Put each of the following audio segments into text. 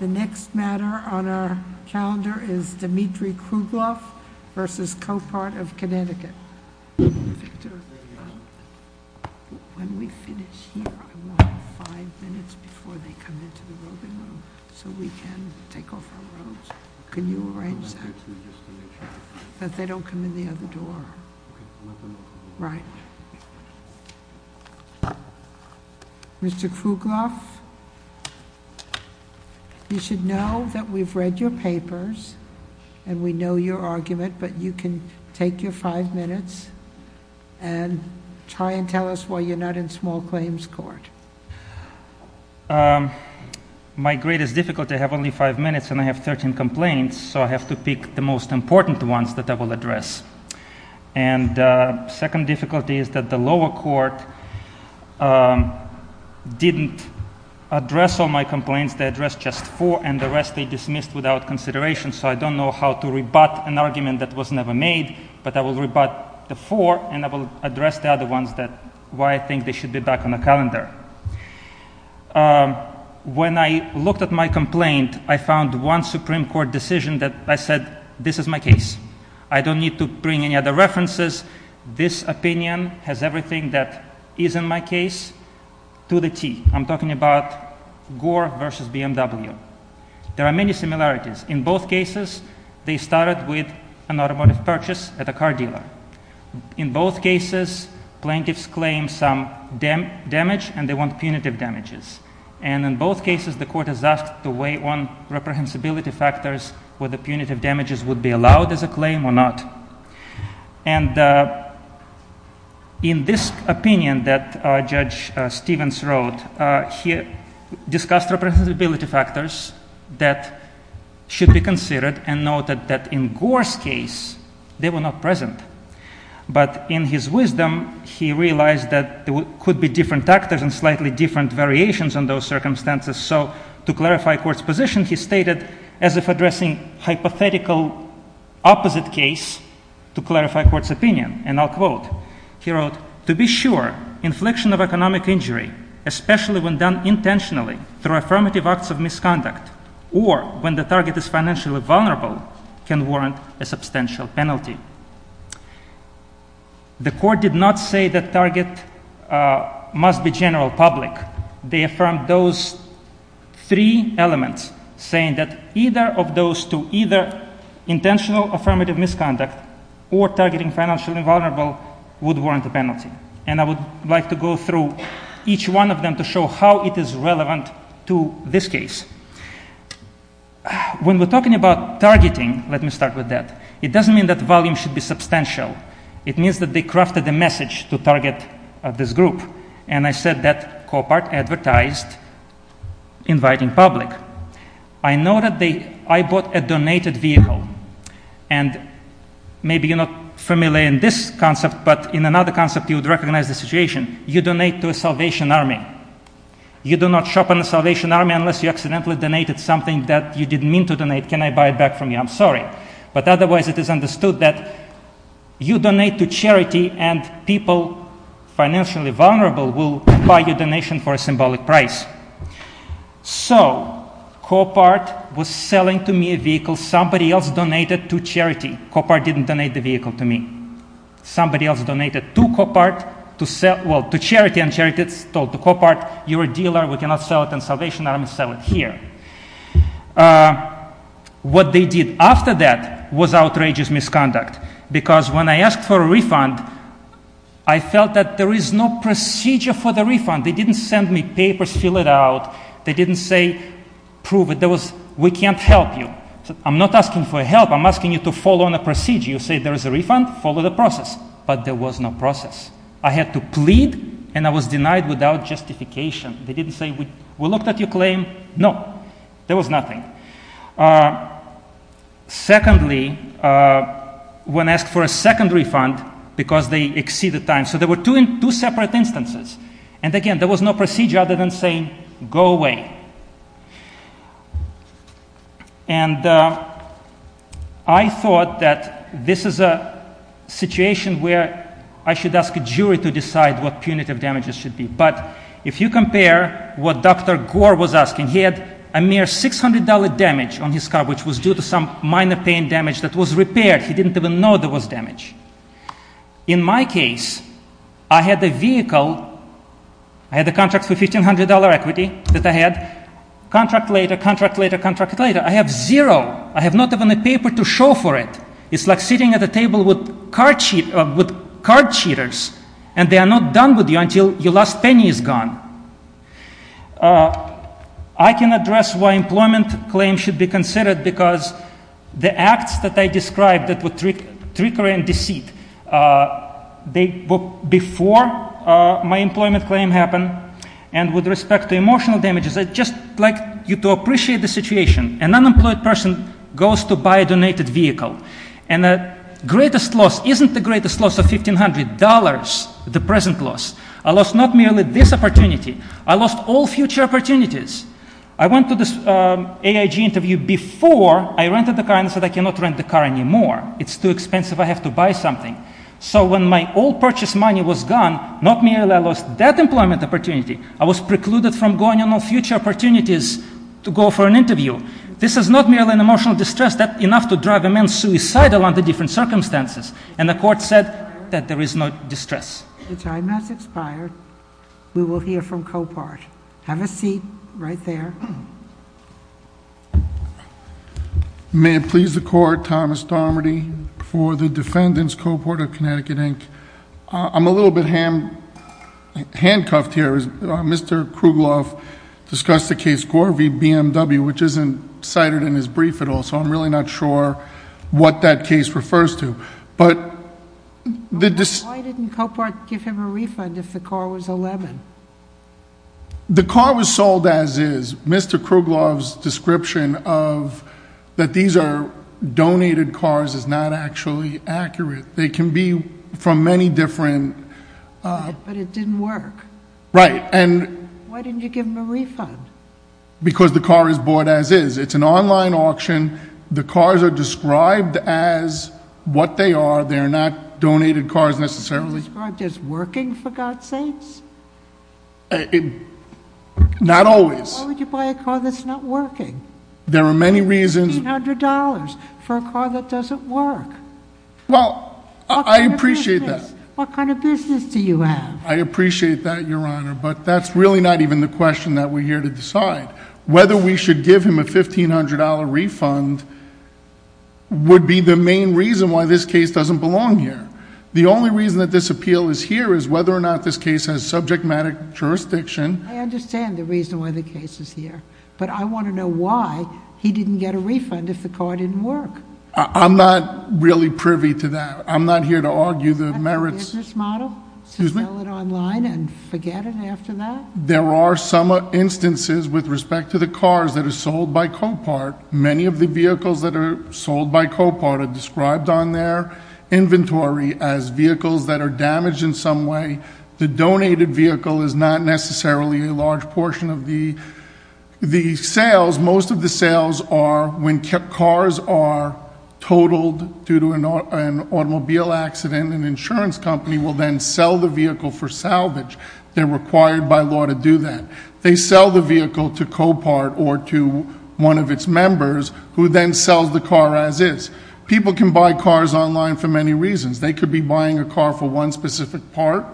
The next matter on our calendar is Dmitry Kruglov v. Copart of Connecticut. Victor, when we finish here, I want five minutes before they come into the roving room, so we can take off our robes. Can you arrange that, that they don't come in the other door? Okay, I'll let them know. Right. Mr. Kruglov, you should know that we've read your papers and we know your argument, but you can take your five minutes and try and tell us why you're not in small claims court. My greatest difficulty, I have only five minutes and I have 13 complaints, so I have to pick the most important ones that I will address. And the second difficulty is that the lower court didn't address all my complaints, they addressed just four and the rest they dismissed without consideration, so I don't know how to rebut an argument that was never made, but I will rebut the four and I will address the other ones that, why I think they should be back on the calendar. When I looked at my complaint, I found one Supreme Court decision that I said, this is my case, I don't need to bring any other references, this opinion has everything that is in my case to the T. I'm talking about Gore versus BMW. There are many similarities. In both cases, they started with an automotive purchase at a car dealer. In both cases, plaintiffs claim some damage and they want punitive damages. And in both cases, the court has asked to weigh on reprehensibility factors whether punitive damages would be allowed as a claim or not. And in this opinion that Judge Stevens wrote, he discussed reprehensibility factors that should be considered and noted that in Gore's case, they were not present. But in his wisdom, he realized that there could be different factors and slightly different variations on those circumstances. So to clarify court's position, he stated as if addressing hypothetical opposite case to clarify court's opinion and I'll quote. He wrote, to be sure, infliction of economic injury, especially when done intentionally through affirmative acts of misconduct or when the target is financially vulnerable can warrant a substantial penalty. The court did not say that target must be general public. They affirmed those three elements saying that either of those two, either intentional affirmative misconduct or targeting financially vulnerable would warrant a penalty. And I would like to go through each one of them to show how it is relevant to this case. When we're talking about targeting, let me start with that. It doesn't mean that volume should be substantial. It means that they crafted a message to target this group. And I said that COPART advertised inviting public. I noted they, I bought a donated vehicle. And maybe you're not familiar in this concept, but in another concept you would recognize the situation. You donate to a Salvation Army. You do not shop in a Salvation Army unless you accidentally donated something that you didn't mean to donate. Can I buy it back from you? I'm sorry. But otherwise it is understood that you donate to charity and people financially vulnerable will buy your donation for a symbolic price. So COPART was selling to me a vehicle somebody else donated to charity. COPART didn't donate the vehicle to me. Somebody else donated to COPART to sell, well to charity and charity told COPART you're a dealer. We cannot sell it in Salvation Army. Sell it here. What they did after that was outrageous misconduct. Because when I asked for a refund, I felt that there is no procedure for the refund. They didn't send me papers, fill it out. They didn't say prove it. There was, we can't help you. I'm not asking for help. I'm asking you to follow on a procedure. You say there is a refund, follow the process. But there was no process. I had to plead and I was denied without justification. They didn't say, we looked at your claim. No. There was nothing. Secondly, when asked for a secondary refund, because they exceeded time. So there were two separate instances. And again, there was no procedure other than saying go away. And I thought that this is a situation where I should ask a jury to decide what punitive damages should be. But if you compare what Dr. Gore was asking, he had a mere $600 damage on his car, which was due to some minor pain damage that was repaired. He didn't even know there was damage. In my case, I had the vehicle, I had the contract for $1,500 equity that I had. Contract later, contract later, contract later. I have zero. I have not even a paper to show for it. It's like sitting at a table with card cheaters. And they are not done with you until your last penny is gone. I can address why employment claims should be considered because the acts that I described that were trickery and deceit, they were before my employment claim happened. And with respect to emotional damages, I'd just like you to appreciate the situation. An unemployed person goes to buy a donated vehicle. And the greatest loss isn't the greatest loss of $1,500, the present loss. I lost not merely this opportunity, I lost all future opportunities. I went to this AIG interview before I rented the car and said I cannot rent the car anymore. It's too expensive, I have to buy something. So when my old purchase money was gone, not merely I lost that employment opportunity, I was precluded from going on all future opportunities to go for an interview. This is not merely an emotional distress, that enough to drive a man suicidal under different circumstances. And the court said that there is no distress. The time has expired. We will hear from Copart. Have a seat right there. May it please the court, Thomas Darmody for the defendants, Copart of Connecticut, Inc. I'm a little bit handcuffed here as Mr. Krugloff discussed the case Gore v. BMW, which isn't cited in his brief at all. So I'm really not sure what that case refers to. But the dis- Why didn't Copart give him a refund if the car was a lemon? The car was sold as is. Mr. Krugloff's description of that these are donated cars is not actually accurate. They can be from many different- But it didn't work. Right, and- Why didn't you give him a refund? Because the car is bought as is. It's an online auction. The cars are described as what they are. They're not donated cars necessarily. Described as working, for God's sakes? Not always. Why would you buy a car that's not working? There are many reasons. $1,500 for a car that doesn't work. Well, I appreciate that. What kind of business do you have? I appreciate that, Your Honor, but that's really not even the question that we're here to decide. Whether we should give him a $1,500 refund would be the main reason why this case doesn't belong here. The only reason that this appeal is here is whether or not this case has subject matter jurisdiction. I understand the reason why the case is here, but I want to know why he didn't get a refund if the car didn't work. I'm not really privy to that. I'm not here to argue the merits. Is that a business model? Excuse me? To sell it online and forget it after that? There are some instances with respect to the cars that are sold by Copart. Many of the vehicles that are sold by Copart are described on their inventory as vehicles that are damaged in some way. The donated vehicle is not necessarily a large portion of the sales. Most of the sales are when cars are totaled due to an automobile accident. An insurance company will then sell the vehicle for salvage. They're required by law to do that. They sell the vehicle to Copart or to one of its members who then sells the car as is. People can buy cars online for many reasons. They could be buying a car for one specific part.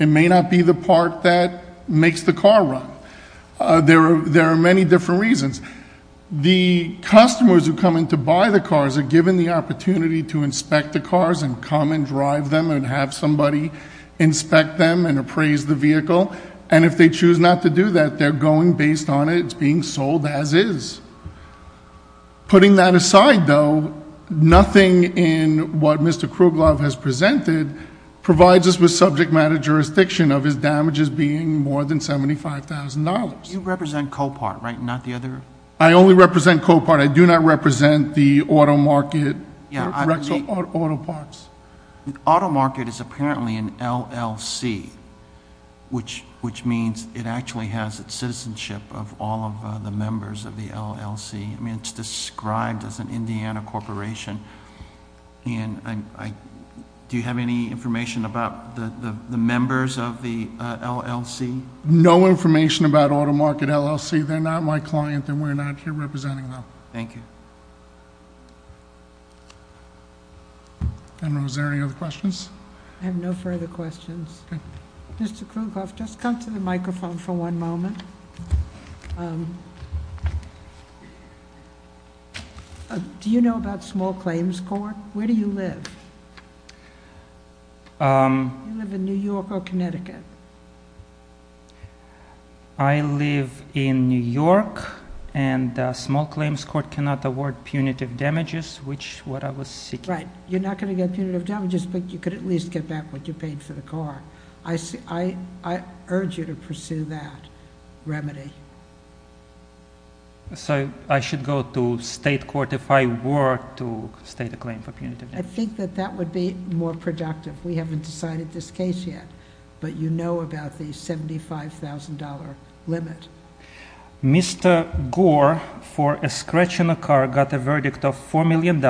It may not be the part that makes the car run. There are many different reasons. The customers who come in to buy the cars are given the opportunity to inspect the cars and to come and drive them and have somebody inspect them and appraise the vehicle. And if they choose not to do that, they're going based on it, it's being sold as is. Putting that aside though, nothing in what Mr. Krugloff has presented provides us with subject matter jurisdiction of his damages being more than $75,000. You represent Copart, right? Not the other? I only represent Copart. I do not represent the auto market, Rexel Auto Parts. The auto market is apparently an LLC, which means it actually has its citizenship of all of the members of the LLC. I mean, it's described as an Indiana corporation. And do you have any information about the members of the LLC? No information about auto market LLC. They're not my client and we're not here representing them. Thank you. General, is there any other questions? I have no further questions. Mr. Krugloff, just come to the microphone for one moment. Do you know about Small Claims Court? Where do you live? Do you live in New York or Connecticut? I live in New York and Small Claims Court cannot award punitive damages, which what I was seeking... Right. You're not going to get punitive damages, but you could at least get back what you paid for the car. I urge you to pursue that remedy. So I should go to state court if I were to state a claim for punitive damages? I think that that would be more productive. We haven't decided this case yet, but you know about the $75,000 limit. Mr. Gore, for a scratch on a car, got a verdict of $4 million,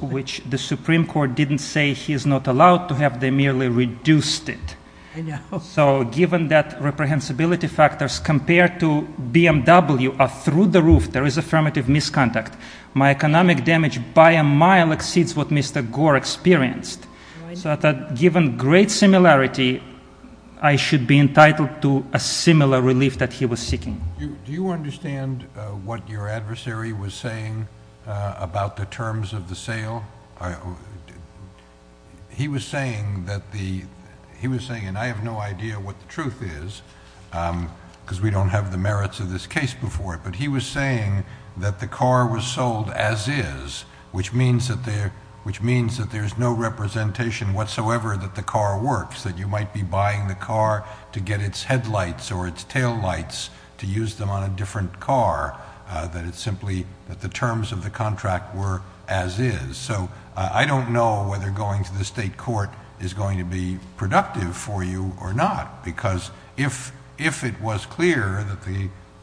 which the Supreme Court didn't say he is not allowed to have. They merely reduced it. I know. So given that reprehensibility factors compared to BMW are through the roof, there is affirmative misconduct. My economic damage by a mile exceeds what Mr. Gore experienced. So that given great similarity, I should be entitled to a similar relief that he was seeking. Do you understand what your adversary was saying about the terms of the sale? He was saying that the... He was saying, and I have no idea what the truth is because we don't have the merits of this case before it, but he was saying that the car was sold as is, which means that there's no representation whatsoever that the car works. That you might be buying the car to get its headlights or its taillights to use them on a different car. That it's simply that the terms of the contract were as is. So I don't know whether going to the state court is going to be productive for you or not. Because if it was clear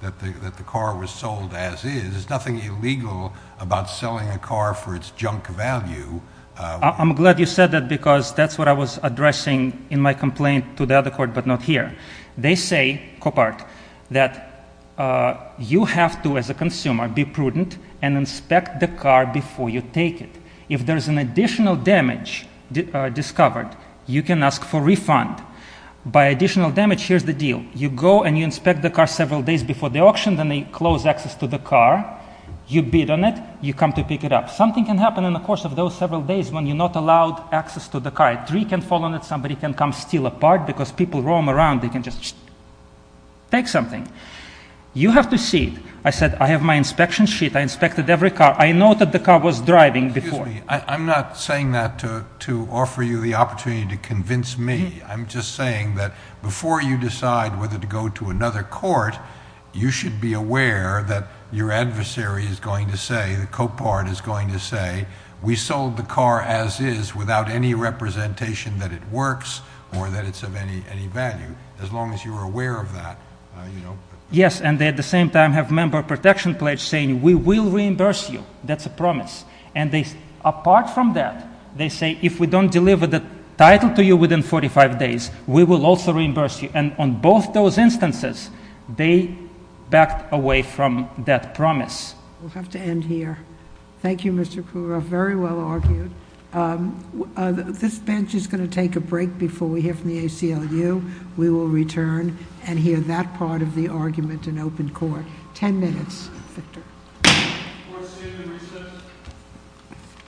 that the car was sold as is, there's nothing illegal about selling a car for its junk value. I'm glad you said that because that's what I was addressing in my complaint to the other court, but not here. They say, Coppert, that you have to, as a consumer, be prudent and inspect the car before you take it. If there's an additional damage discovered, you can ask for refund. By additional damage, here's the deal. You go and you inspect the car several days before the auction, then they close access to the car. You bid on it. You come to pick it up. Something can happen in the course of those several days when you're not allowed access to the car. A tree can fall on it. Somebody can come steal a part because people roam around. They can just take something. You have to see it. I said, I have my inspection sheet. I inspected every car. I know that the car was driving before. Excuse me. I'm not saying that to offer you the opportunity to convince me. I'm just saying that before you decide whether to go to another court, you should be aware that your adversary is going to say, that Coppert is going to say, we sold the car as is without any representation that it works or that it's of any value. As long as you're aware of that, you know. Yes. And at the same time, have member protection pledge saying, we will reimburse you. That's a promise. And apart from that, they say, if we don't deliver the title to you within 45 days, we will also reimburse you. And on both those instances, they backed away from that promise. We'll have to end here. Thank you, Mr. Kurov. Very well argued. This bench is going to take a break before we hear from the ACLU. We will return and hear that part of the argument in open court. Ten minutes, Victor. Court is adjourned in recess.